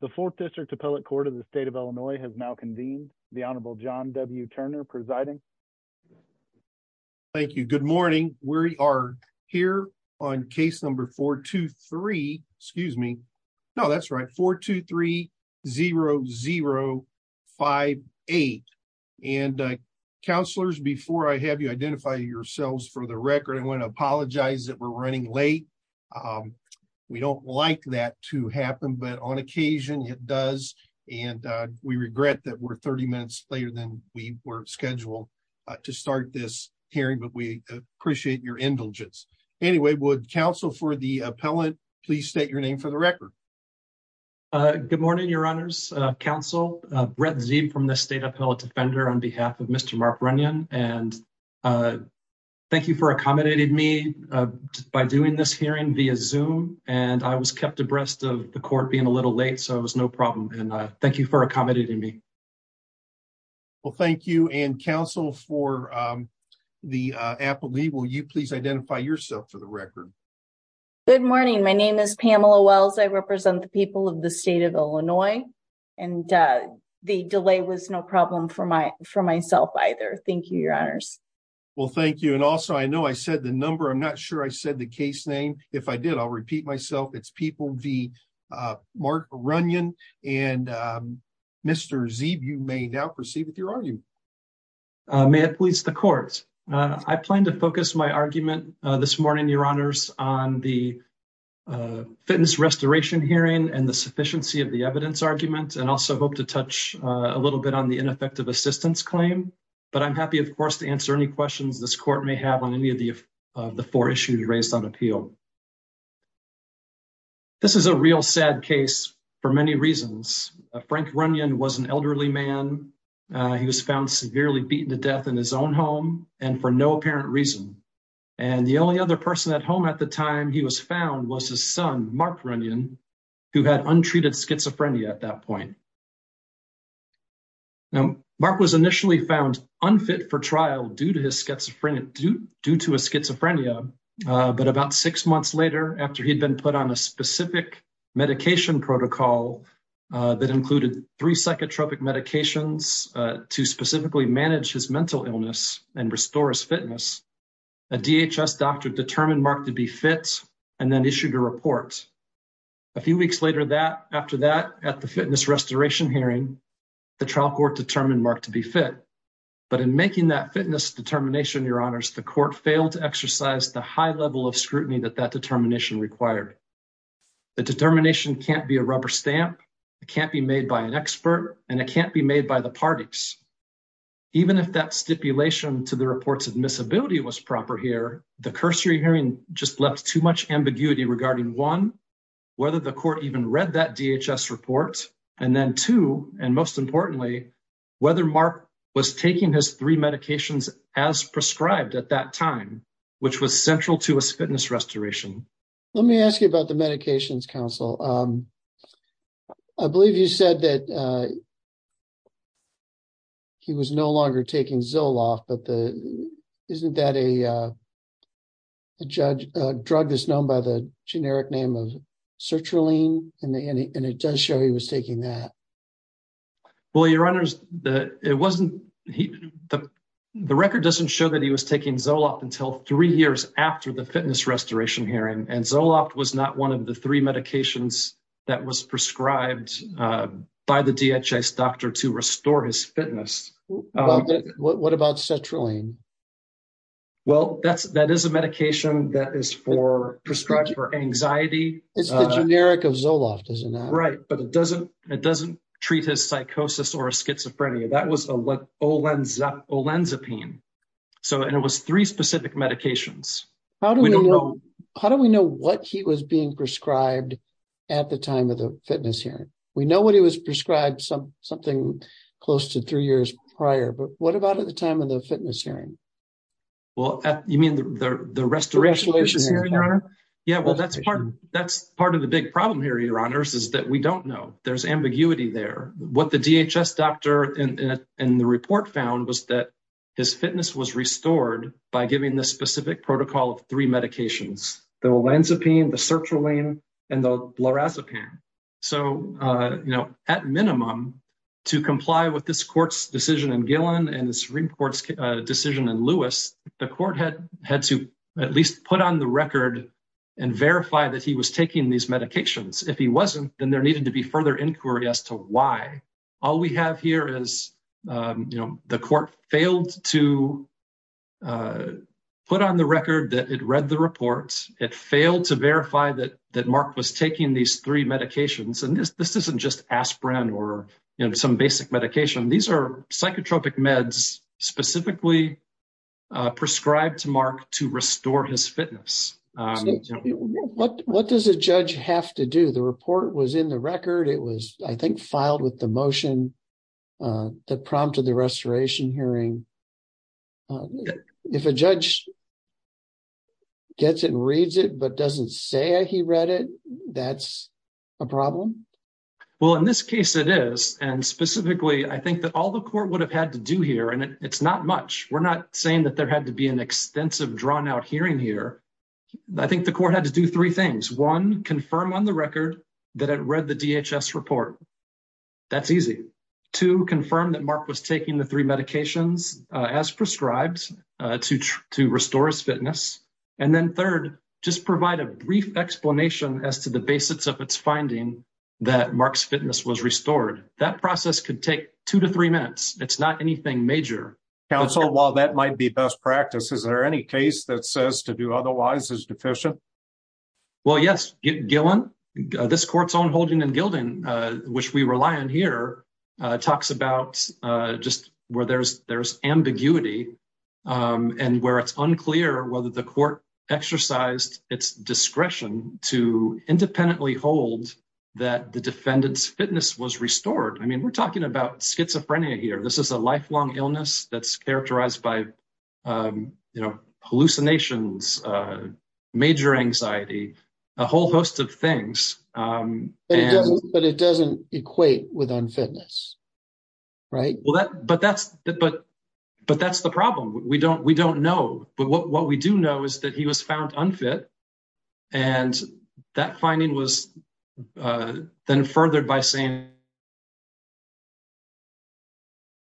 The fourth district appellate court of the state of Illinois has now convened. The Honorable John W. Turner presiding. Thank you. Good morning. We are here on case number 423. Excuse me. No, that's right. 423-0058. And counselors, before I have you identify yourselves for the record, I want to apologize that we're running late. We don't like that to happen, but on occasion it does. And we regret that we're 30 minutes later than we were scheduled to start this hearing, but we appreciate your indulgence. Anyway, would counsel for the appellant, please state your name for the record. Good morning, Your Honor's counsel from the state appellate defender on behalf of Mr. Mark Runyon. And thank you for accommodating me by doing this hearing via Zoom. And I was kept abreast of the court being a little late. So it was no problem. And thank you for accommodating me. Well, thank you. And counsel for the appellee, will you please identify yourself for the record? Good morning. My name is Pamela Wells. I represent the people of the state of Illinois. And the delay was no problem for my for myself either. Thank you, Your Honors. Well, thank you. And also, I know I said the number. I'm not sure I said the case name. If I did, I'll repeat myself. It's People v. Mark Runyon. And Mr. Zeeb, you may now proceed with your argument. May it please the court. I plan to focus my argument this morning, Your Honors, on the fitness restoration hearing and the sufficiency of the evidence argument, and also hope to touch a little bit on the ineffective assistance claim. But I'm happy, of course, to answer any questions this court may have on any of the four issues raised on appeal. This is a real sad case for many reasons. Frank Runyon was an elderly man. He was found severely beaten to death in his own home and for no apparent reason. And the only other person at home at the time he was found was his son, Mark Runyon, who had untreated schizophrenia at that point. Now, Mark was initially found unfit for trial due to his schizophrenia, due to his schizophrenia. But about six months later, after he'd been put on a specific medication protocol that included three psychotropic medications to specifically manage his mental illness and restore his fitness, a DHS doctor determined Mark to be fit and then issued a report. A few weeks later after that, at the fitness restoration hearing, the trial court determined Mark to be fit. But in making that fitness determination, Your Honors, the court failed to exercise the high level of scrutiny that that determination required. The determination can't be a rubber stamp, it can't be made by an expert, and it can't be made by the parties. Even if that stipulation to the report's admissibility was proper here, the cursory hearing just left too much ambiguity regarding one, whether the court even read that DHS report, and then two, and most importantly, whether Mark was taking his three medications as prescribed at that time, which was central to his fitness restoration. Let me ask you about the medications, Counsel. I believe you said that he was no longer taking Zoloft, but isn't that a drug that's known by the generic name of sertraline? And it does show he was taking that. Well, Your Honors, the record doesn't show that he was taking Zoloft until three years after the fitness restoration hearing, and Zoloft was not one of the three medications that was prescribed by the DHS doctor to restore his fitness. What about sertraline? Well, that is a medication that is prescribed for anxiety. It's the generic of Zoloft, isn't it? Right, but it doesn't treat his psychosis or schizophrenia. That was olanzapine, and it was three specific medications. How do we know what he was being prescribed at the time of the fitness hearing? We know what he was prescribed something close to three years prior, but what about at the time of the fitness hearing? Yeah, well, that's part of the big problem here, Your Honors, is that we don't know. There's ambiguity there. What the DHS doctor in the report found was that his fitness was restored by giving the specific protocol of three medications. The olanzapine, the sertraline, and the lorazepam. At minimum, to comply with this court's decision in Gillen and the Supreme Court's decision in Lewis, the court had to at least put on the record and verify that he was taking these medications. If he wasn't, then there needed to be further inquiry as to why. All we have here is the court failed to put on the record that it read the report. It failed to verify that Mark was taking these three medications. This isn't just aspirin or some basic medication. These are psychotropic meds specifically prescribed to Mark to restore his fitness. What does a judge have to do? The report was in the record. It was, I think, filed with the motion that prompted the restoration hearing. If a judge gets it and reads it but doesn't say he read it, that's a problem? In this case, it is. Specifically, I think that all the court would have had to do here, and it's not much. We're not saying that there had to be an extensive, drawn-out hearing here. I think the court had to do three things. One, confirm on the record that it read the DHS report. That's easy. Two, confirm that Mark was taking the three medications as prescribed to restore his fitness. And then third, just provide a brief explanation as to the basics of its finding that Mark's fitness was restored. That process could take two to three minutes. It's not anything major. Counsel, while that might be best practice, is there any case that says to do otherwise is deficient? Well, yes. Gillen, this court's own holding and gilding, which we rely on here, talks about just where there's ambiguity and where it's unclear whether the court exercised its discretion to independently hold that the defendant's fitness was restored. I mean, we're talking about schizophrenia here. This is a lifelong illness that's characterized by hallucinations, major anxiety, a whole host of things. But it doesn't equate with unfitness, right? But that's the problem. We don't know. But what we do know is that he was found unfit. And that finding was then furthered by saying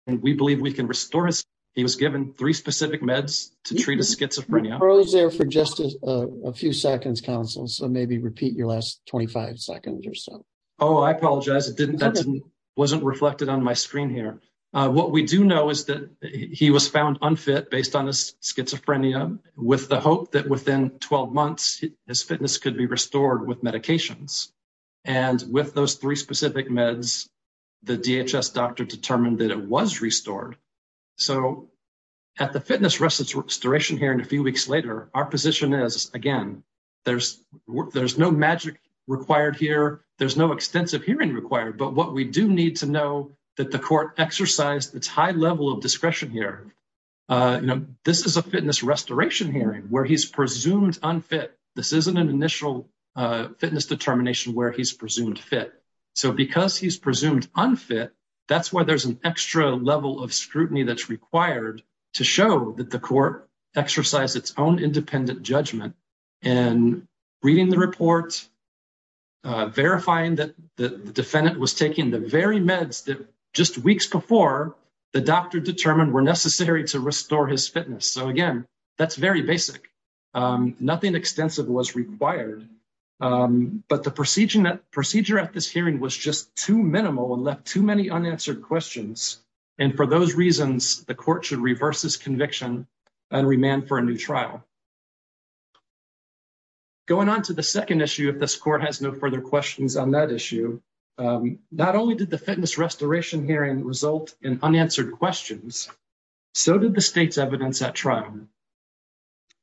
we believe we can restore his fitness. He was given three specific meds to treat his schizophrenia. You froze there for just a few seconds, counsel, so maybe repeat your last 25 seconds or so. Oh, I apologize. That wasn't reflected on my screen here. What we do know is that he was found unfit based on his schizophrenia with the hope that within 12 months his fitness could be restored with medications. And with those three specific meds, the DHS doctor determined that it was restored. So at the fitness restoration hearing a few weeks later, our position is, again, there's no magic required here. There's no extensive hearing required. But what we do need to know that the court exercised its high level of discretion here. This is a fitness restoration hearing where he's presumed unfit. This isn't an initial fitness determination where he's presumed fit. So because he's presumed unfit, that's why there's an extra level of scrutiny that's required to show that the court exercised its own independent judgment in reading the report, verifying that the defendant was taking the very meds that just weeks before the doctor determined were necessary to restore his fitness. So, again, that's very basic. Nothing extensive was required. But the procedure at this hearing was just too minimal and left too many unanswered questions. And for those reasons, the court should reverse this conviction and remand for a new trial. Going on to the second issue, if this court has no further questions on that issue, not only did the fitness restoration hearing result in unanswered questions, so did the state's evidence at trial.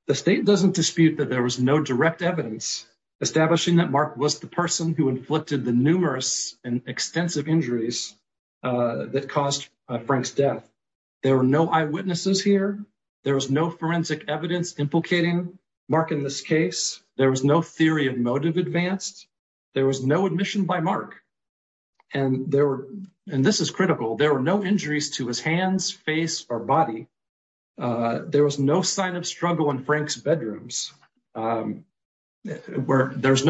The state doesn't dispute that there was no direct evidence establishing that Mark was the person who inflicted the numerous and extensive injuries that caused Frank's death. There were no eyewitnesses here. There was no forensic evidence implicating Mark in this case. There was no theory of motive advanced. There was no admission by Mark. And this is critical. There were no injuries to his hands, face, or body. There was no sign of struggle in Frank's bedrooms. There's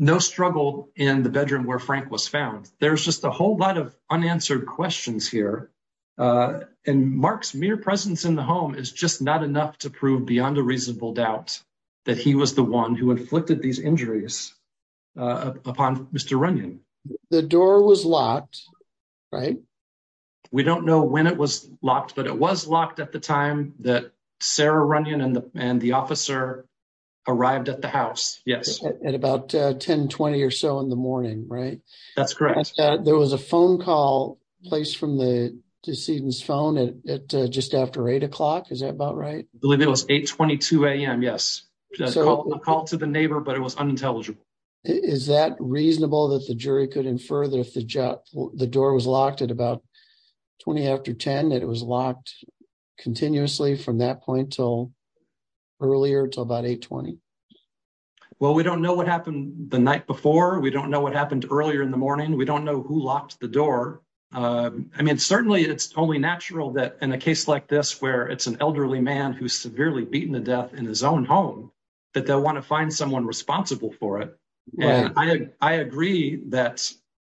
no struggle in the bedroom where Frank was found. There's just a whole lot of unanswered questions here. And Mark's mere presence in the home is just not enough to prove beyond a reasonable doubt that he was the one who inflicted these injuries upon Mr. Runyon. The door was locked, right? We don't know when it was locked, but it was locked at the time that Sarah Runyon and the officer arrived at the house, yes. At about 10, 20 or so in the morning, right? That's correct. There was a phone call placed from the decedent's phone just after 8 o'clock. Is that about right? I believe it was 8, 22 a.m., yes. A call to the neighbor, but it was unintelligible. Is that reasonable that the jury could infer that if the door was locked at about 20 after 10, that it was locked continuously from that point until earlier, until about 8, 20? Well, we don't know what happened the night before. We don't know what happened earlier in the morning. We don't know who locked the door. I mean, certainly it's only natural that in a case like this, where it's an elderly man who's severely beaten to death in his own home, that they'll want to find someone responsible for it. And I agree that...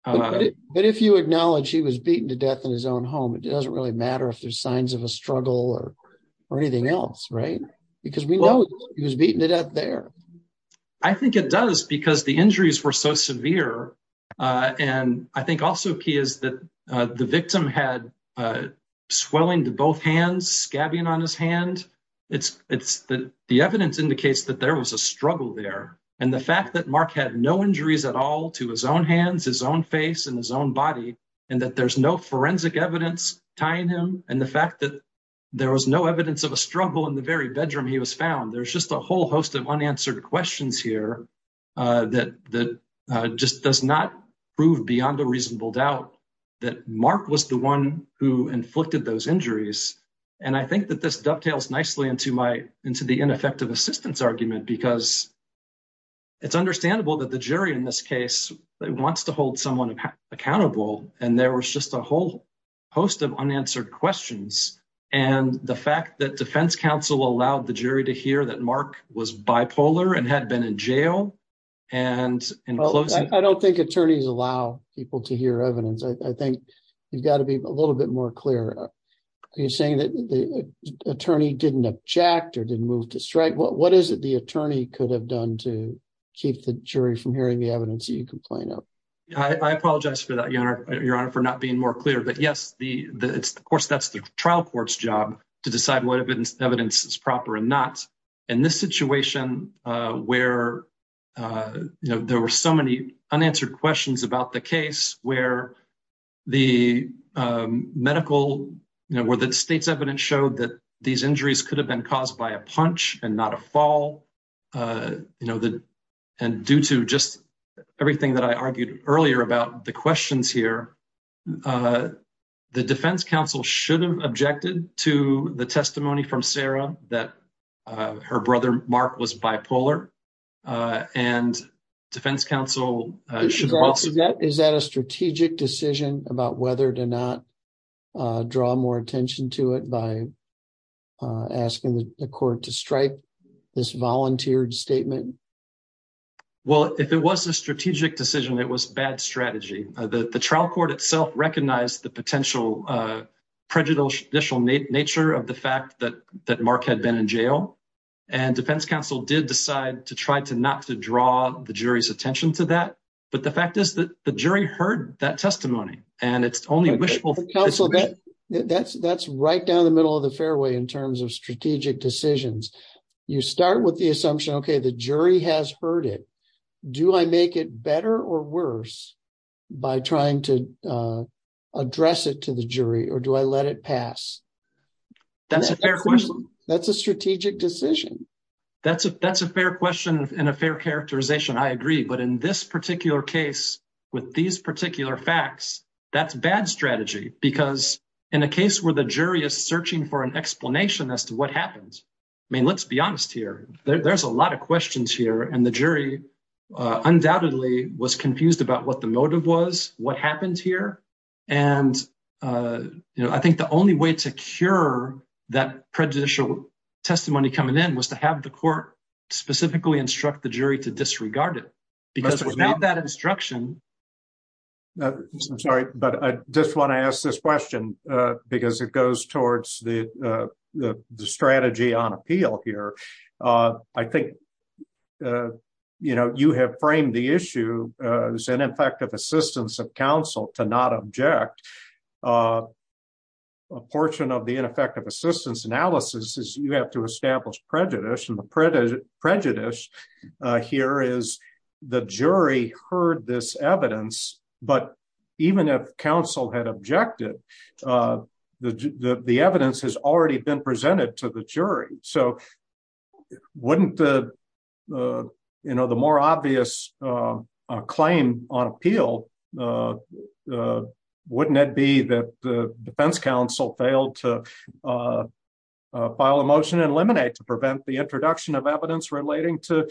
But if you acknowledge he was beaten to death in his own home, it doesn't really matter if there's signs of a struggle or anything else, right? Because we know he was beaten to death there. I think it does, because the injuries were so severe. And I think also key is that the victim had swelling to both hands, scabbing on his hand. The evidence indicates that there was a struggle there. And the fact that Mark had no injuries at all to his own hands, his own face, and his own body, and that there's no forensic evidence tying him, and the fact that there was no evidence of a struggle in the very bedroom he was found. There's just a whole host of unanswered questions here that just does not prove beyond a reasonable doubt that Mark was the one who inflicted those injuries. And I think that this dovetails nicely into the ineffective assistance argument, because it's understandable that the jury in this case wants to hold someone accountable, and there was just a whole host of unanswered questions. And the fact that defense counsel allowed the jury to hear that Mark was bipolar and had been in jail, and in closing- I don't think attorneys allow people to hear evidence. I think you've got to be a little bit more clear. Are you saying that the attorney didn't object or didn't move to strike? What is it the attorney could have done to keep the jury from hearing the evidence that you complain of? I apologize for that, Your Honor, for not being more clear. But, yes, of course, that's the trial court's job to decide whether the evidence is proper or not. In this situation where there were so many unanswered questions about the case, where the medical- where the state's evidence showed that these injuries could have been caused by a punch and not a fall, and due to just everything that I argued earlier about the questions here, the defense counsel should have objected to the testimony from Sarah that her brother Mark was bipolar, and defense counsel should also- Well, if it was a strategic decision, it was bad strategy. The trial court itself recognized the potential prejudicial nature of the fact that Mark had been in jail, and defense counsel did decide to try not to draw the jury's attention to that. But the fact is that the jury heard that testimony, and it's only wishful- Counsel, that's right down the middle of the fairway in terms of strategic decisions. You start with the assumption, okay, the jury has heard it. Do I make it better or worse by trying to address it to the jury, or do I let it pass? That's a fair question. That's a strategic decision. That's a fair question and a fair characterization. I agree. But in this particular case, with these particular facts, that's bad strategy because in a case where the jury is searching for an explanation as to what happened, I mean, let's be honest here. There's a lot of questions here, and the jury undoubtedly was confused about what the motive was, what happened here. I think the only way to cure that prejudicial testimony coming in was to have the court specifically instruct the jury to disregard it because without that instruction- I'm sorry, but I just want to ask this question because it goes towards the strategy on appeal here. I think you have framed the issue as ineffective assistance of counsel to not object. A portion of the ineffective assistance analysis is you have to establish prejudice, and the prejudice here is the jury heard this evidence, but even if counsel had objected, the evidence has already been presented to the jury. Wouldn't the more obvious claim on appeal, wouldn't it be that the defense counsel failed to file a motion and eliminate to prevent the introduction of evidence relating to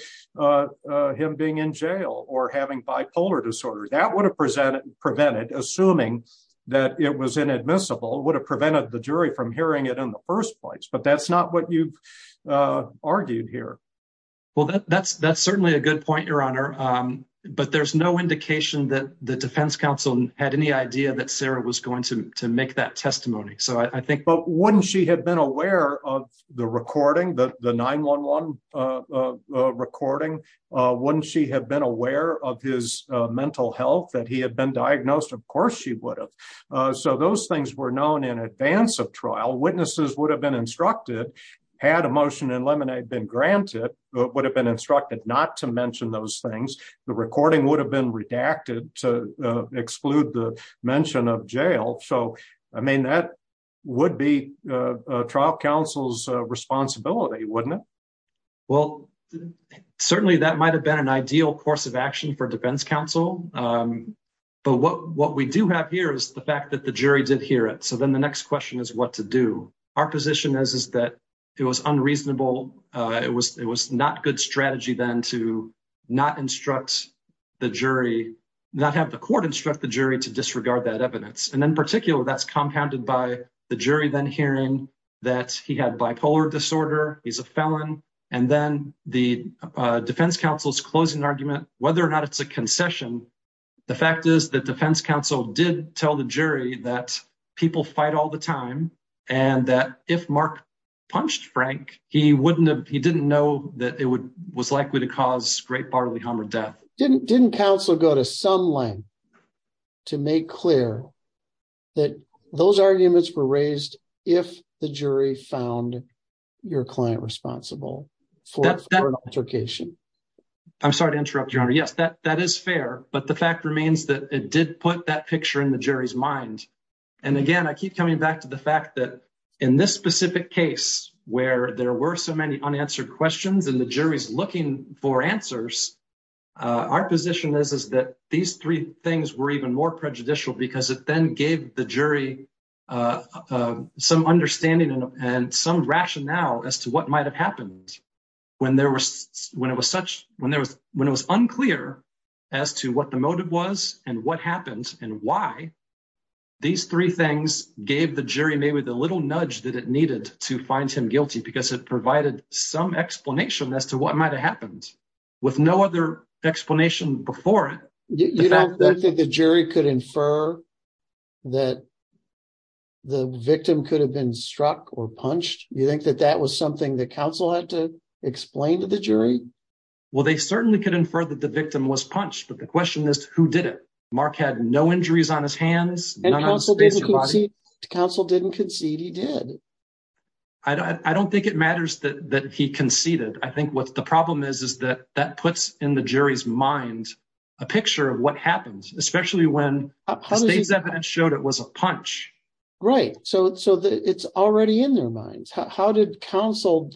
him being in jail or having bipolar disorder? That would have prevented, assuming that it was inadmissible, would have prevented the jury from hearing it in the first place, but that's not what you've argued here. Well, that's certainly a good point, Your Honor, but there's no indication that the defense counsel had any idea that Sarah was going to make that testimony. But wouldn't she have been aware of the recording, the 911 recording? Wouldn't she have been aware of his mental health, that he had been diagnosed? Of course she would have. So those things were known in advance of trial. Witnesses would have been instructed, had a motion to eliminate been granted, would have been instructed not to mention those things. The recording would have been redacted to exclude the mention of jail. So, I mean, that would be trial counsel's responsibility, wouldn't it? Well, certainly that might have been an ideal course of action for defense counsel. But what we do have here is the fact that the jury did hear it. So then the next question is what to do. Our position is that it was unreasonable, it was not good strategy then to not instruct the jury, not have the court instruct the jury to disregard that evidence. And in particular, that's compounded by the jury then hearing that he had bipolar disorder, he's a felon, and then the defense counsel's closing argument, whether or not it's a concession, the fact is that defense counsel did tell the jury that people fight all the time, and that if Mark punched Frank, he didn't know that it was likely to cause great bodily harm or death. Didn't counsel go to some length to make clear that those arguments were raised if the jury found your client responsible for an altercation? I'm sorry to interrupt, Your Honor. Yes, that is fair, but the fact remains that it did put that picture in the jury's mind. And again, I keep coming back to the fact that in this specific case where there were so many unanswered questions and the jury's looking for answers, our position is that these three things were even more prejudicial because it then gave the jury some understanding and some rationale as to what might have happened. When it was unclear as to what the motive was and what happened and why, these three things gave the jury maybe the little nudge that it needed to find him guilty because it provided some explanation as to what might have happened. With no other explanation before it. You don't think that the jury could infer that the victim could have been struck or punched? You think that that was something that counsel had to explain to the jury? Well, they certainly could infer that the victim was punched, but the question is, who did it? Mark had no injuries on his hands. And counsel didn't concede he did. I don't think it matters that he conceded. I think what the problem is, is that that puts in the jury's mind a picture of what happened, especially when the state's evidence showed it was a punch. Right. So it's already in their minds. How did counsel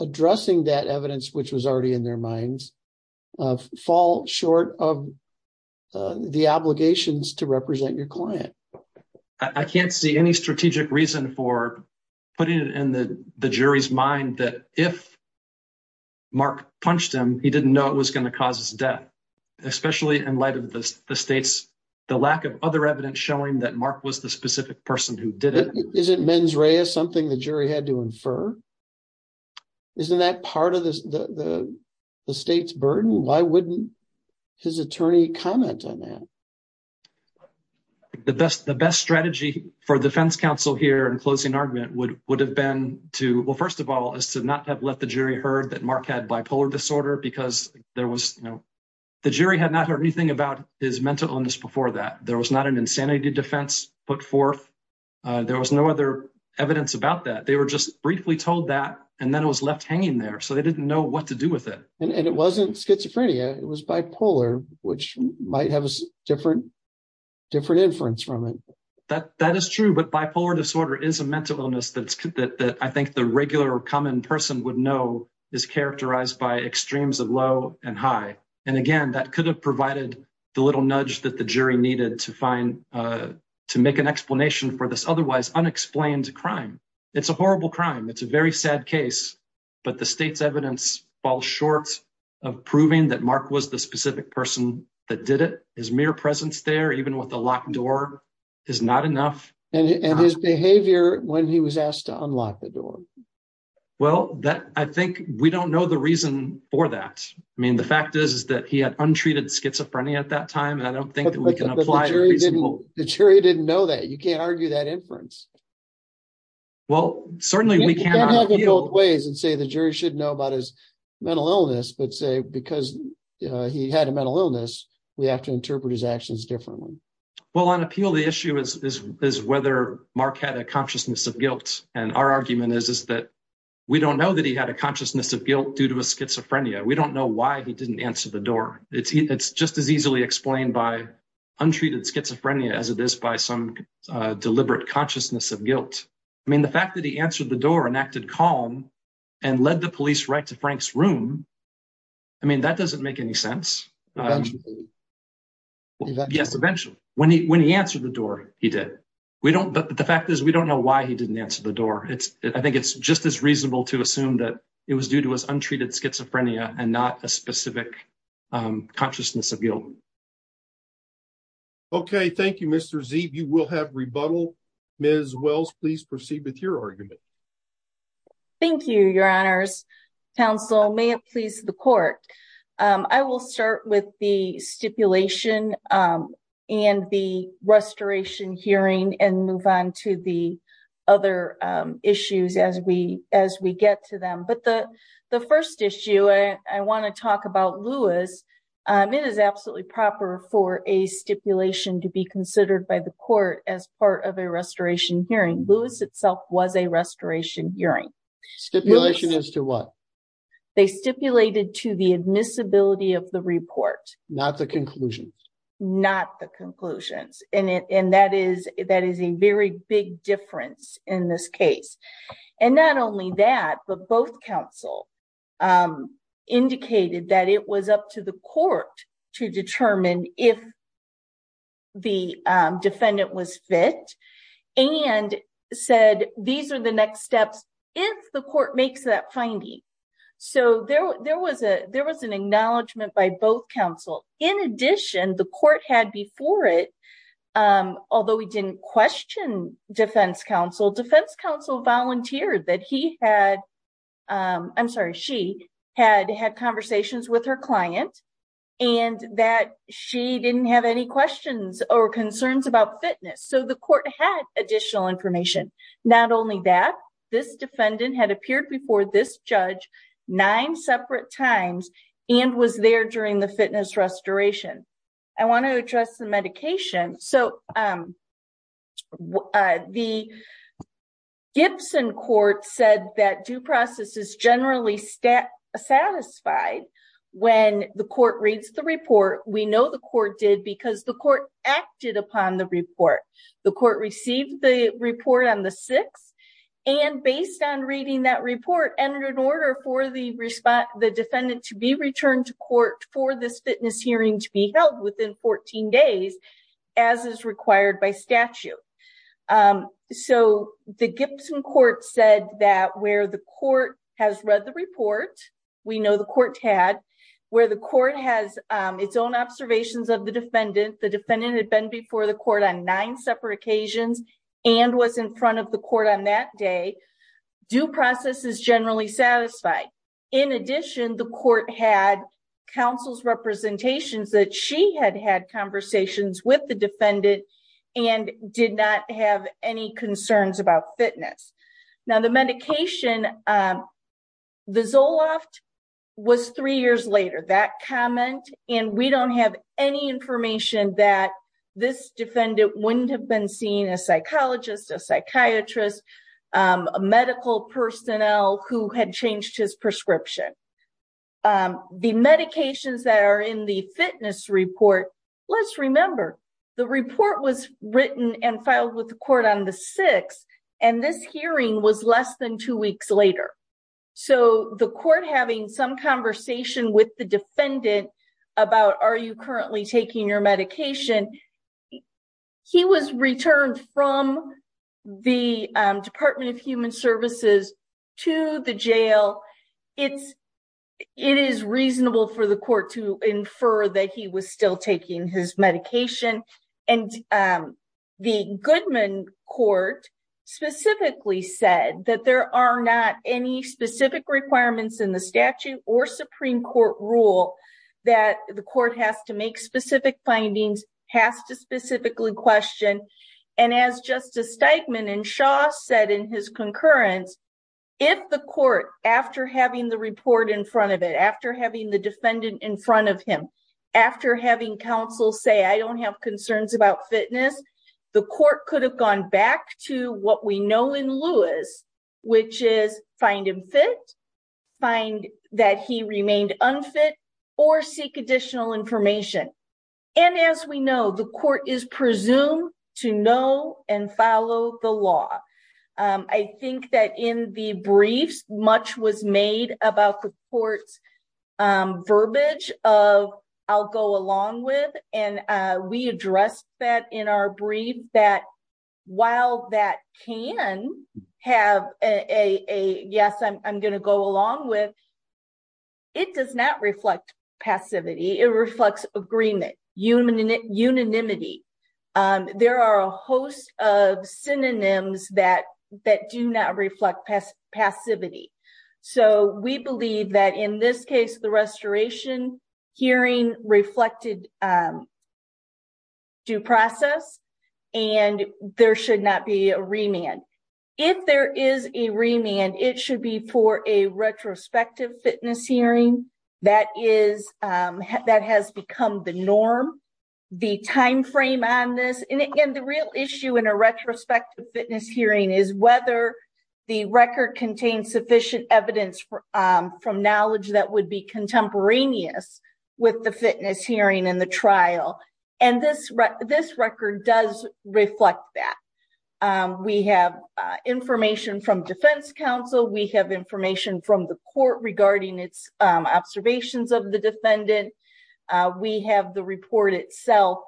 addressing that evidence, which was already in their minds, fall short of the obligations to represent your client? I can't see any strategic reason for putting it in the jury's mind that if Mark punched him, he didn't know it was going to cause death, especially in light of the state's lack of other evidence showing that Mark was the specific person who did it. Isn't mens rea something the jury had to infer? Isn't that part of the state's burden? Why wouldn't his attorney comment on that? The best strategy for defense counsel here in closing argument would have been to, well, first of all, is to not have let the jury heard that Mark had bipolar disorder because there was, you know, the jury had not heard anything about his mental illness before that. There was not an insanity defense put forth. There was no other evidence about that. They were just briefly told that and then it was left hanging there. So they didn't know what to do with it. And it wasn't schizophrenia. It was bipolar, which might have a different inference from it. That is true, but bipolar disorder is a mental illness that I think the regular or common person would know is characterized by extremes of low and high. And again, that could have provided the little nudge that the jury needed to make an explanation for this otherwise unexplained crime. It's a horrible crime. It's a very sad case. But the state's evidence falls short of proving that Mark was the specific person that did it. His mere presence there, even with a locked door, is not enough. And his behavior when he was asked to unlock the door. Well, I think we don't know the reason for that. I mean, the fact is, is that he had untreated schizophrenia at that time. And I don't think that we can apply. The jury didn't know that. You can't argue that inference. Well, certainly we can't argue both ways and say the jury should know about his mental illness, but say because he had a mental illness, we have to interpret his actions differently. Well, on appeal, the issue is whether Mark had a consciousness of guilt. And our argument is that we don't know that he had a consciousness of guilt due to a schizophrenia. We don't know why he didn't answer the door. It's just as easily explained by untreated schizophrenia as it is by some deliberate consciousness of guilt. I mean, the fact that he answered the door and acted calm and led the police right to Frank's room, I mean, that doesn't make any sense. Eventually. Yes, eventually. When he answered the door, he did. But the fact is, we don't know why he didn't answer the door. It's I think it's just as reasonable to assume that it was due to his untreated schizophrenia and not a specific consciousness of guilt. Okay, thank you, Mr. Z. You will have rebuttal. Ms. Wells, please proceed with your argument. Thank you, Your Honors. Counsel, may it please the court. I will start with the stipulation and the restoration hearing and move on to the other issues as we as we get to them. But the the first issue I want to talk about, Lewis, it is absolutely proper for a stipulation to be considered by the court as part of a restoration hearing. Lewis itself was a restoration hearing. Stipulation as to what? They stipulated to the admissibility of the report, not the conclusion, not the conclusions. And that is that is a very big difference in this case. And not only that, but both counsel indicated that it was up to the court to determine if. The defendant was fit and said, these are the next steps if the court makes that finding. So there was a there was an acknowledgement by both counsel. In addition, the court had before it, although we didn't question defense counsel, defense counsel volunteered that he had I'm sorry, she had had conversations with her client and that she didn't have any questions or concerns about fitness. So the court had additional information. Not only that, this defendant had appeared before this judge nine separate times and was there during the fitness restoration. I want to address the medication. So the Gibson court said that due process is generally satisfied when the court reads the report. We know the court did because the court acted upon the report. The court received the report on the six and based on reading that report and in order for the respond, the defendant to be returned to court for this fitness hearing to be held within 14 days, as is required by statute. So the Gibson court said that where the court has read the report, we know the court had where the court has its own observations of the defendant. The defendant had been before the court on nine separate occasions and was in front of the court on that day. Due process is generally satisfied. In addition, the court had counsel's representations that she had had conversations with the defendant and did not have any concerns about fitness. Now, the medication, the Zoloft was three years later. That comment and we don't have any information that this defendant wouldn't have been seen a psychologist, a psychiatrist, a medical personnel who had changed his prescription. The medications that are in the fitness report, let's remember the report was written and filed with the court on the six. And this hearing was less than two weeks later. So the court having some conversation with the defendant about, are you currently taking your medication? He was returned from the Department of Human Services to the jail. It's it is reasonable for the court to infer that he was still taking his medication. And the Goodman court specifically said that there are not any specific requirements in the statute or Supreme Court rule that the court has to make specific findings has to specifically question. And as Justice Steigman and Shaw said in his concurrence, if the court after having the report in front of it, after having the defendant in front of him, after having counsel say, I don't have concerns about fitness. The court could have gone back to what we know in Lewis, which is find him fit, find that he remained unfit or seek additional information. And as we know, the court is presumed to know and follow the law. I think that in the briefs, much was made about the court's verbiage of I'll go along with. And we addressed that in our brief that while that can have a yes, I'm going to go along with. It does not reflect passivity, it reflects agreement, unanimity, unanimity. There are a host of synonyms that that do not reflect passivity. So we believe that in this case, the restoration hearing reflected due process, and there should not be a remand. If there is a remand, it should be for a retrospective fitness hearing. That has become the norm. The timeframe on this and the real issue in a retrospective fitness hearing is whether the record contains sufficient evidence from knowledge that would be contemporaneous with the fitness hearing and the trial. And this record does reflect that. We have information from defense counsel. We have information from the court regarding its observations of the defendant. We have the report itself.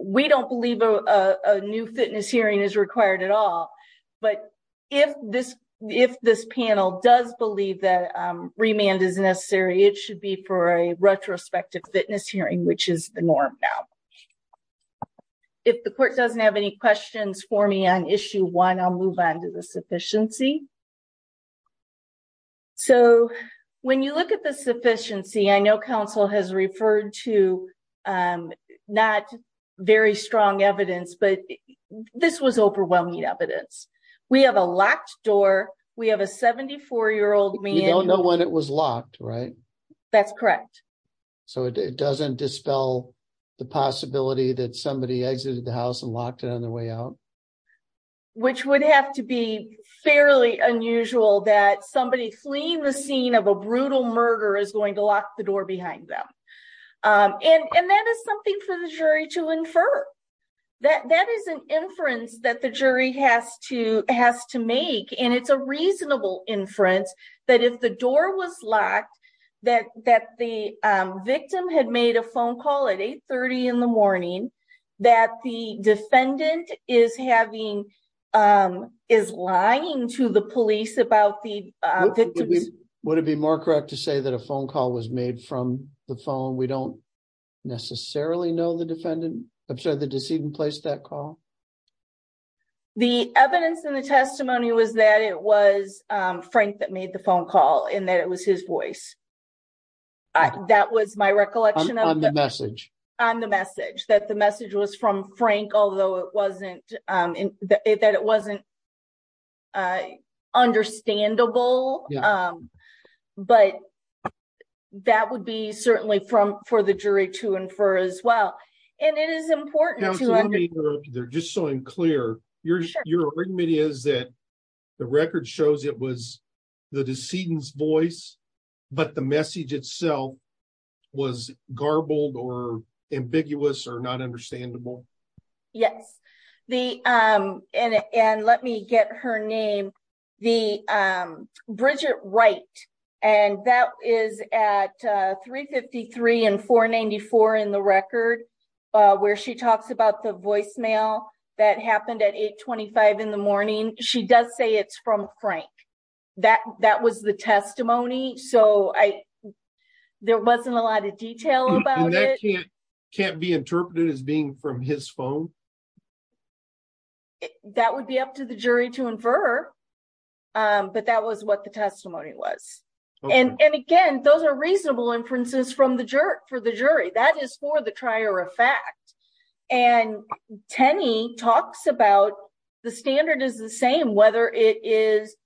We don't believe a new fitness hearing is required at all. But if this if this panel does believe that remand is necessary, it should be for a retrospective fitness hearing, which is the norm. If the court doesn't have any questions for me on issue one, I'll move on to the sufficiency. So when you look at the sufficiency, I know counsel has referred to not very strong evidence, but this was overwhelming evidence. We have a locked door. We have a 74 year old. We don't know when it was locked, right? That's correct. So it doesn't dispel the possibility that somebody exited the house and locked it on their way out. Which would have to be fairly unusual that somebody fleeing the scene of a brutal murder is going to lock the door behind them. And that is something for the jury to infer that that is an inference that the jury has to has to make. And it's a reasonable inference that if the door was locked, that that the victim had made a phone call at 830 in the morning, that the defendant is having is lying to the police about the victim. Would it be more correct to say that a phone call was made from the phone? We don't necessarily know the defendant. I'm sorry, the decedent placed that call. The evidence in the testimony was that it was Frank that made the phone call and that it was his voice. That was my recollection of the message on the message that the message was from Frank, although it wasn't that it wasn't. Understandable, but that would be certainly from for the jury to infer as well. And it is important. They're just so unclear. Your argument is that the record shows it was the decedent's voice, but the message itself was garbled or ambiguous or not understandable. Yes, the and let me get her name. The Bridget, right. And that is at 353 and 494 in the record where she talks about the voicemail that happened at 825 in the morning. She does say it's from Frank that that was the testimony. So, I, there wasn't a lot of detail about it can't be interpreted as being from his phone. That would be up to the jury to infer, but that was what the testimony was. And again, those are reasonable inferences from the jerk for the jury. That is for the trier of fact. And Tenney talks about the standard is the same, whether it is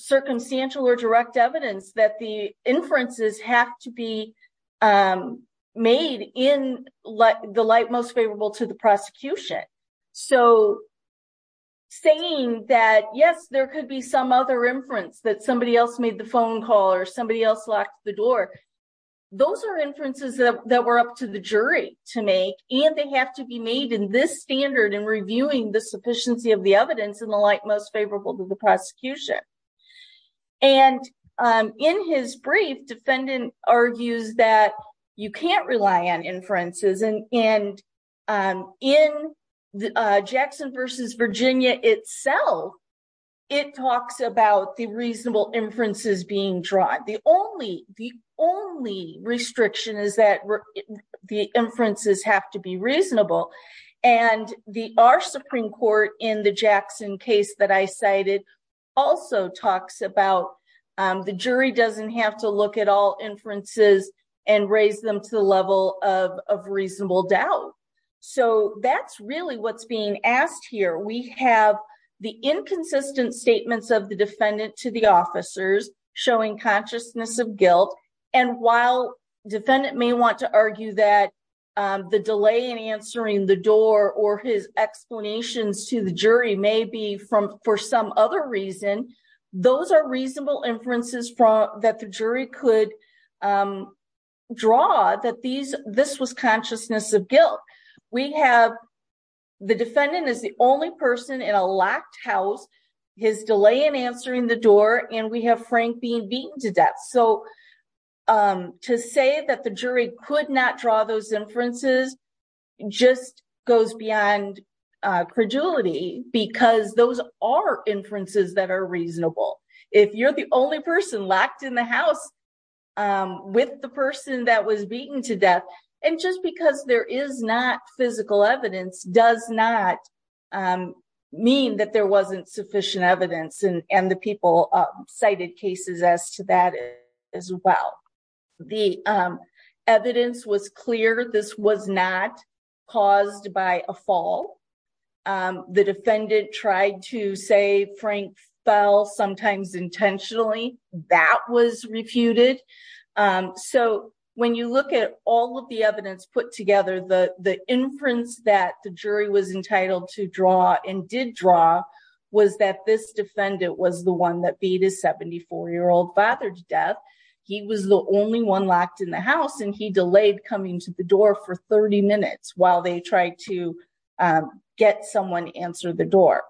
circumstantial or direct evidence that the inferences have to be made in the light most favorable to the prosecution. So, saying that, yes, there could be some other inference that somebody else made the phone call or somebody else locked the door. Those are inferences that were up to the jury to make, and they have to be made in this standard and reviewing the sufficiency of the evidence in the light most favorable to the prosecution. And in his brief, defendant argues that you can't rely on inferences and in Jackson versus Virginia itself, it talks about the reasonable inferences being drawn. The only restriction is that the inferences have to be reasonable. And the our Supreme Court in the Jackson case that I cited also talks about the jury doesn't have to look at all inferences and raise them to the level of reasonable doubt. So that's really what's being asked here. We have the inconsistent statements of the defendant to the officers showing consciousness of guilt. And while defendant may want to argue that the delay in answering the door or his explanations to the jury may be for some other reason, those are reasonable inferences that the jury could draw that this was consciousness of guilt. We have the defendant is the only person in a locked house, his delay in answering the door, and we have Frank being beaten to death. So to say that the jury could not draw those inferences just goes beyond credulity, because those are inferences that are reasonable. If you're the only person locked in the house with the person that was beaten to death, and just because there is not physical evidence does not mean that there wasn't sufficient evidence and the people cited cases as to that as well. The evidence was clear this was not caused by a fall. The defendant tried to say Frank fell sometimes intentionally. That was refuted. So when you look at all of the evidence put together, the inference that the jury was entitled to draw and did draw was that this defendant was the one that beat his 74-year-old father to death. He was the only one locked in the house and he delayed coming to the door for 30 minutes while they tried to get someone to answer the door.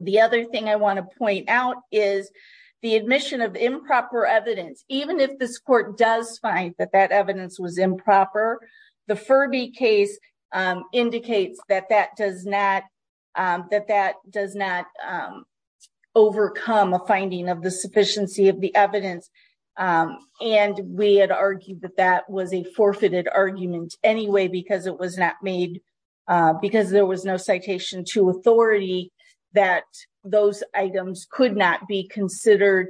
The other thing I want to point out is the admission of improper evidence, even if this court does find that that evidence was improper, the Furby case indicates that that does not overcome a finding of the sufficiency of the evidence. We had argued that that was a forfeited argument anyway, because there was no citation to authority that those items could not be considered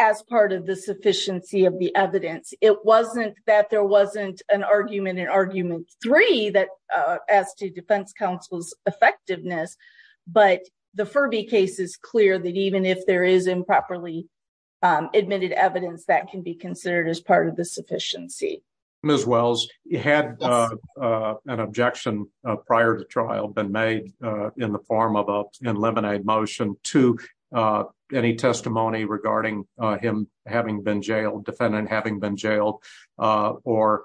as part of the sufficiency of the evidence. It wasn't that there wasn't an argument in argument three that as to defense counsel's effectiveness, but the Furby case is clear that even if there is improperly admitted evidence that can be considered as part of the sufficiency. Ms. Wells, had an objection prior to trial been made in the form of an eliminated motion to any testimony regarding him having been jailed, defendant having been jailed, or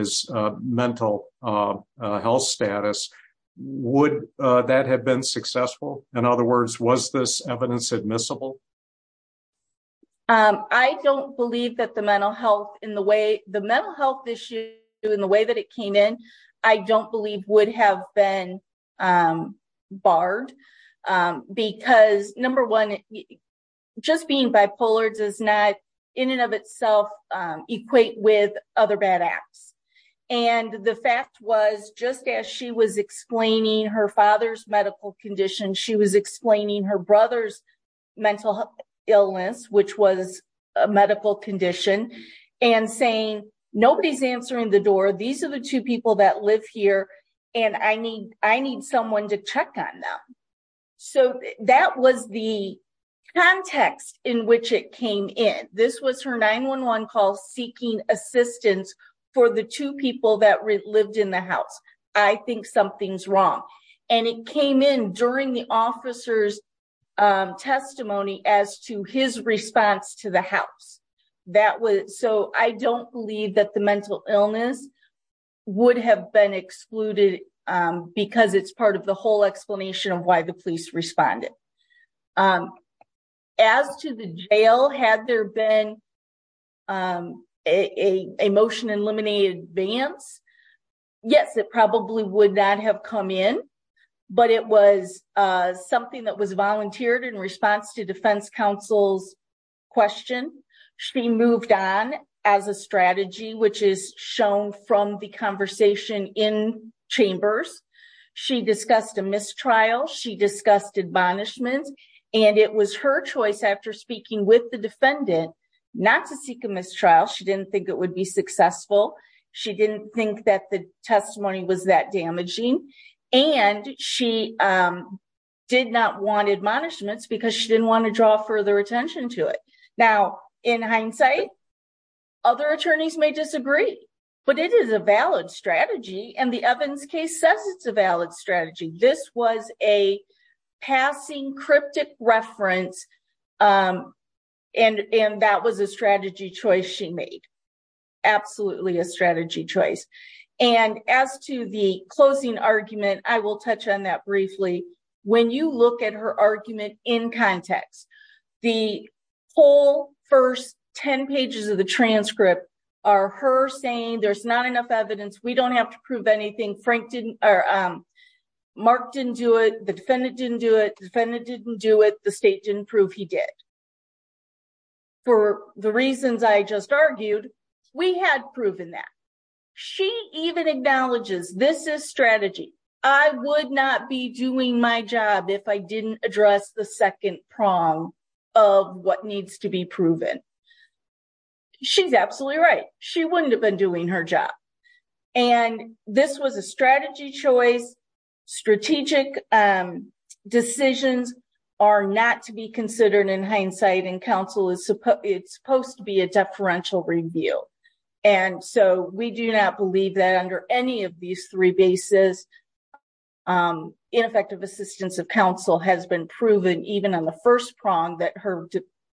his mental health status, would that have been successful? In other words, was this evidence admissible? I don't believe that the mental health issue in the way that it came in, I don't believe would have been barred, because number one, just being bipolar does not in and of itself equate with other bad acts. And the fact was, just as she was explaining her father's medical condition, she was explaining her brother's mental illness, which was a medical condition, and saying, nobody's answering the door, these are the two people that live here, and I need someone to check on them. So that was the context in which it came in. This was her 911 call seeking assistance for the two people that lived in the house. I think something's wrong. And it came in during the officer's testimony as to his response to the house. So I don't believe that the mental illness would have been excluded, because it's part of the whole explanation of why the police responded. As to the jail, had there been a motion in limited advance? Yes, it probably would not have come in. But it was something that was volunteered in response to defense counsel's question. She moved on as a strategy, which is shown from the conversation in chambers. She discussed a mistrial. She discussed admonishments. And it was her choice after speaking with the defendant, not to seek a mistrial. She didn't think it would be successful. She didn't think that the testimony was that damaging. And she did not want admonishments because she didn't want to draw further attention to it. Now, in hindsight, other attorneys may disagree, but it is a valid strategy. And the Evans case says it's a valid strategy. This was a passing cryptic reference. And that was a strategy choice she made. Absolutely a strategy choice. And as to the closing argument, I will touch on that briefly. When you look at her argument in context, the whole first 10 pages of the transcript are her saying there's not enough evidence. We don't have to prove anything. Mark didn't do it. The defendant didn't do it. The defendant didn't do it. The state didn't prove he did. For the reasons I just argued, we had proven that. She even acknowledges this is strategy. I would not be doing my job if I didn't address the second prong of what needs to be proven. She's absolutely right. She wouldn't have been doing her job. And this was a strategy choice. Strategic decisions are not to be considered in hindsight, and counsel is supposed to be a deferential review. And so we do not believe that under any of these three bases, ineffective assistance of counsel has been proven, even on the first prong, that her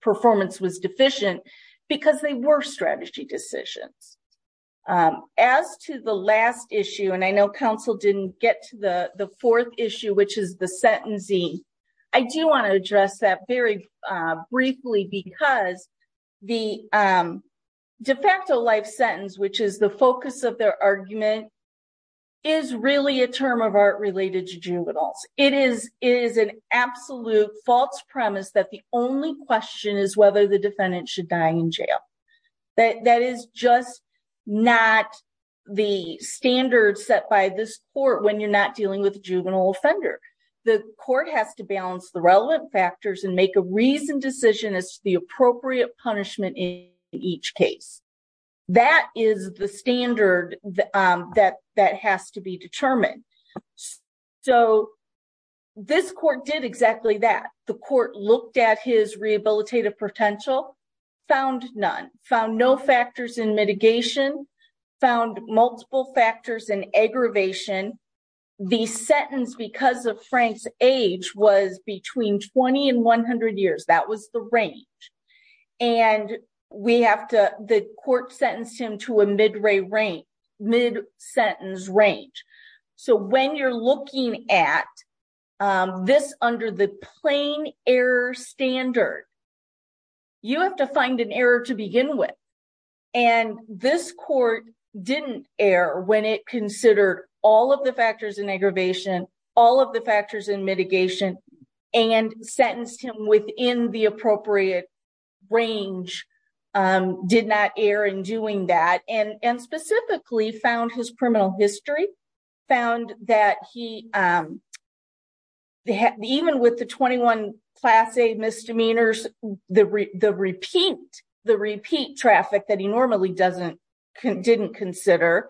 performance was deficient because they were strategy decisions. As to the last issue, and I know counsel didn't get to the fourth issue, which is the sentencing, I do want to address that very briefly because the de facto life sentence, which is the focus of their argument, is really a term of art related to juveniles. It is an absolute false premise that the only question is whether the defendant should die in jail. That is just not the standard set by this court when you're not dealing with a juvenile offender. The court has to balance the relevant factors and make a reasoned decision as to the appropriate punishment in each case. That is the standard that has to be determined. So this court did exactly that. The court looked at his rehabilitative potential, found none, found no factors in mitigation, found multiple factors in aggravation. The sentence, because of Frank's age, was between 20 and 100 years. That was the range. And the court sentenced him to a mid-sentence range. So when you're looking at this under the plain error standard, you have to find an error to begin with. And this court didn't err when it considered all of the factors in aggravation, all of the factors in mitigation, and sentenced him within the appropriate range. Did not err in doing that. And specifically found his criminal history, found that even with the 21 class A misdemeanors, the repeat traffic that he normally didn't consider,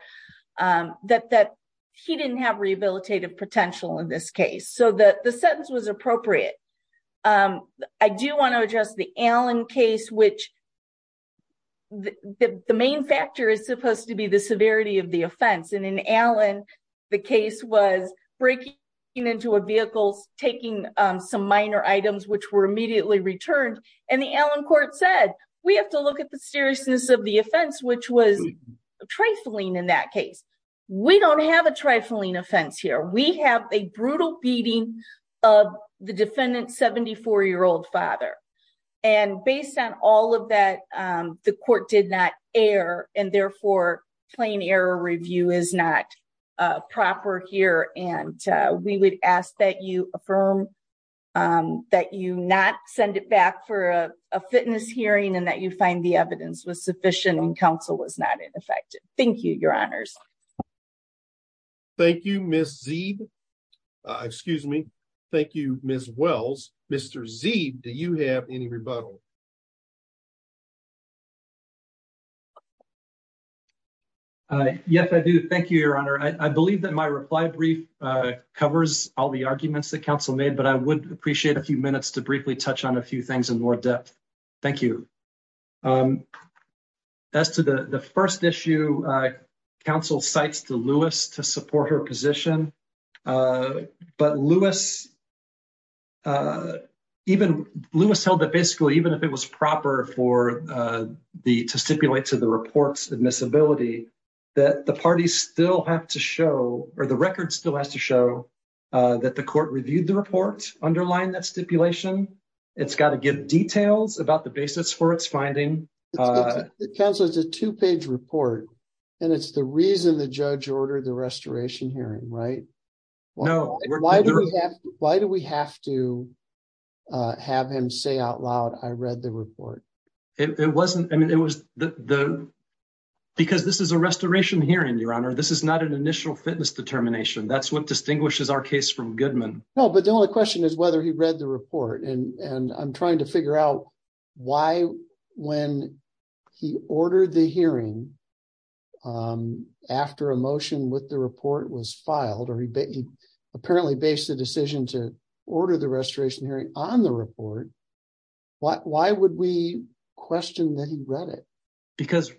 that he didn't have rehabilitative potential in this case. So the sentence was appropriate. I do want to address the Allen case, which the main factor is supposed to be the severity of the offense. And in Allen, the case was breaking into a vehicle, taking some minor items, which were immediately returned. And the Allen court said, we have to look at the seriousness of the offense, which was trifling in that case. We don't have a trifling offense here. We have a brutal beating of the defendant's 74-year-old father. And based on all of that, the court did not err. And therefore, plain error review is not proper here. And we would ask that you affirm that you not send it back for a fitness hearing and that you find the evidence was sufficient and counsel was not ineffective. Thank you, Your Honors. Thank you, Ms. Zeeb. Excuse me. Thank you, Ms. Wells. Mr. Zeeb, do you have any rebuttal? Yes, I do. Thank you, Your Honor. I believe that my reply brief covers all the arguments that counsel made, but I would appreciate a few minutes to briefly touch on a few things in more depth. Thank you. As to the first issue, counsel cites to Lewis to support her position. But Lewis held that basically, even if it was proper to stipulate to the report's admissibility, that the parties still have to show, or the record still has to show, that the court reviewed the report underlying that stipulation. It's got to give details about the basis for its finding. Counsel, it's a two-page report, and it's the reason the judge ordered the restoration hearing, right? No. Why do we have to have him say out loud, I read the report? It wasn't, I mean, it was the, because this is a restoration hearing, Your Honor. This is not an initial fitness determination. That's what distinguishes our case from Goodman. No, but the only question is whether he read the report. And I'm trying to figure out why, when he ordered the hearing, after a motion with the report was filed, or he apparently based the decision to order the restoration hearing on the report, why would we question that he read it? Because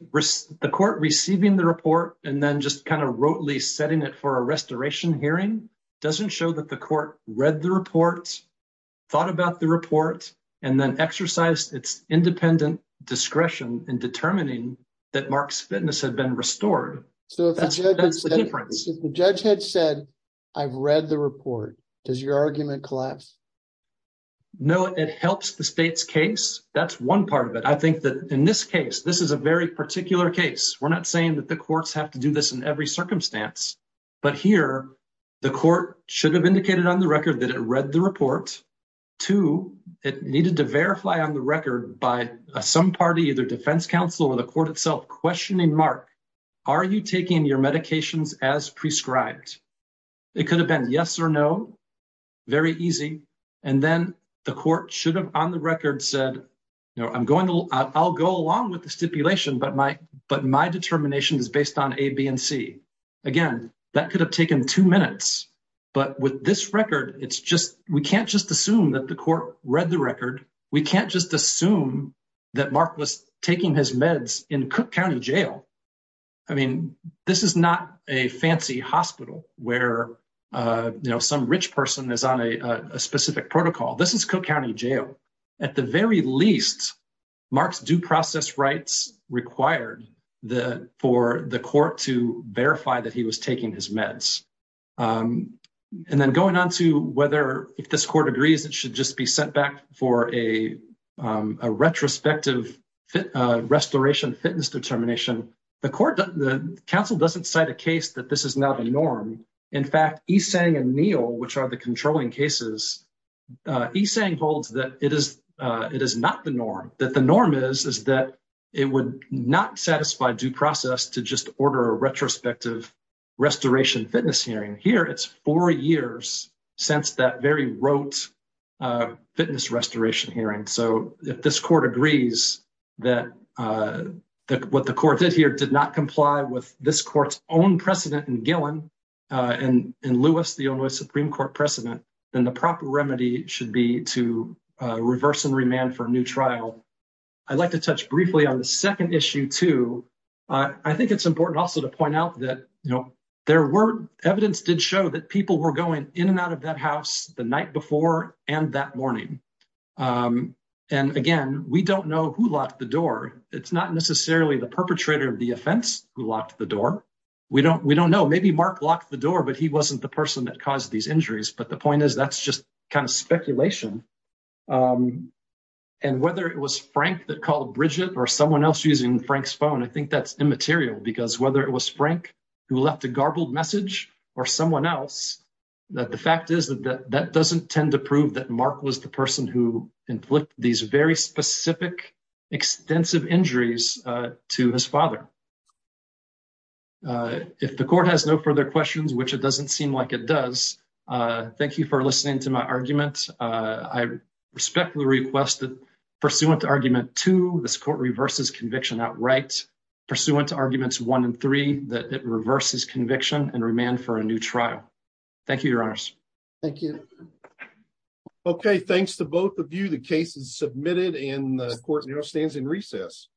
the court receiving the report, and then just kind of rotely setting it for a restoration hearing, doesn't show that the court read the report, thought about the report, and then exercised its independent discretion in determining that Mark's fitness had been restored. So if the judge had said, I've read the report, does your argument collapse? No, it helps the state's case. That's one part of it. I think that in this case, this is a very particular case. We're not saying that the courts have to do this in every circumstance. But here, the court should have indicated on the record that it read the report. Two, it needed to verify on the record by some party, either defense counsel or the court itself, questioning Mark, are you taking your medications as prescribed? It could have been yes or no, very easy. And then the court should have on the record said, I'll go along with the stipulation, but my determination is based on A, B, and C. Again, that could have taken two minutes. But with this record, we can't just assume that the court read the record. We can't just assume that Mark was taking his meds in Cook County Jail. I mean, this is not a fancy hospital where some rich person is on a specific protocol. This is Cook County Jail. At the very least, Mark's due process rights required for the court to verify that he was taking his meds. And then going on to whether, if this court agrees, it should just be sent back for a retrospective restoration fitness determination. The counsel doesn't cite a case that this is not a norm. In fact, Esang and Neal, which are the controlling cases, Esang holds that it is not the norm. That the norm is that it would not satisfy due process to just order a retrospective restoration fitness hearing. Here, it's four years since that very rote fitness restoration hearing. So, if this court agrees that what the court did here did not comply with this court's own precedent in Gillen and Lewis, the Illinois Supreme Court precedent, then the proper remedy should be to reverse and remand for a new trial. I'd like to touch briefly on the second issue, too. I think it's important also to point out that there were evidence did show that people were going in and out of that house the night before and that morning. And again, we don't know who locked the door. It's not necessarily the perpetrator of the offense who locked the door. We don't know. Maybe Mark locked the door, but he wasn't the person that caused these injuries. But the point is, that's just kind of speculation. And whether it was Frank that called Bridget or someone else using Frank's phone, I think that's immaterial. Because whether it was Frank who left a garbled message or someone else, the fact is that that doesn't tend to prove that Mark was the person who inflicted these very specific, extensive injuries to his father. If the court has no further questions, which it doesn't seem like it does, thank you for listening to my argument. I respectfully request that, pursuant to argument two, this court reverses conviction outright. Pursuant to arguments one and three, that it reverses conviction and remand for a new trial. Thank you, Your Honors. Thank you. Okay, thanks to both of you. The case is submitted and the court now stands in recess.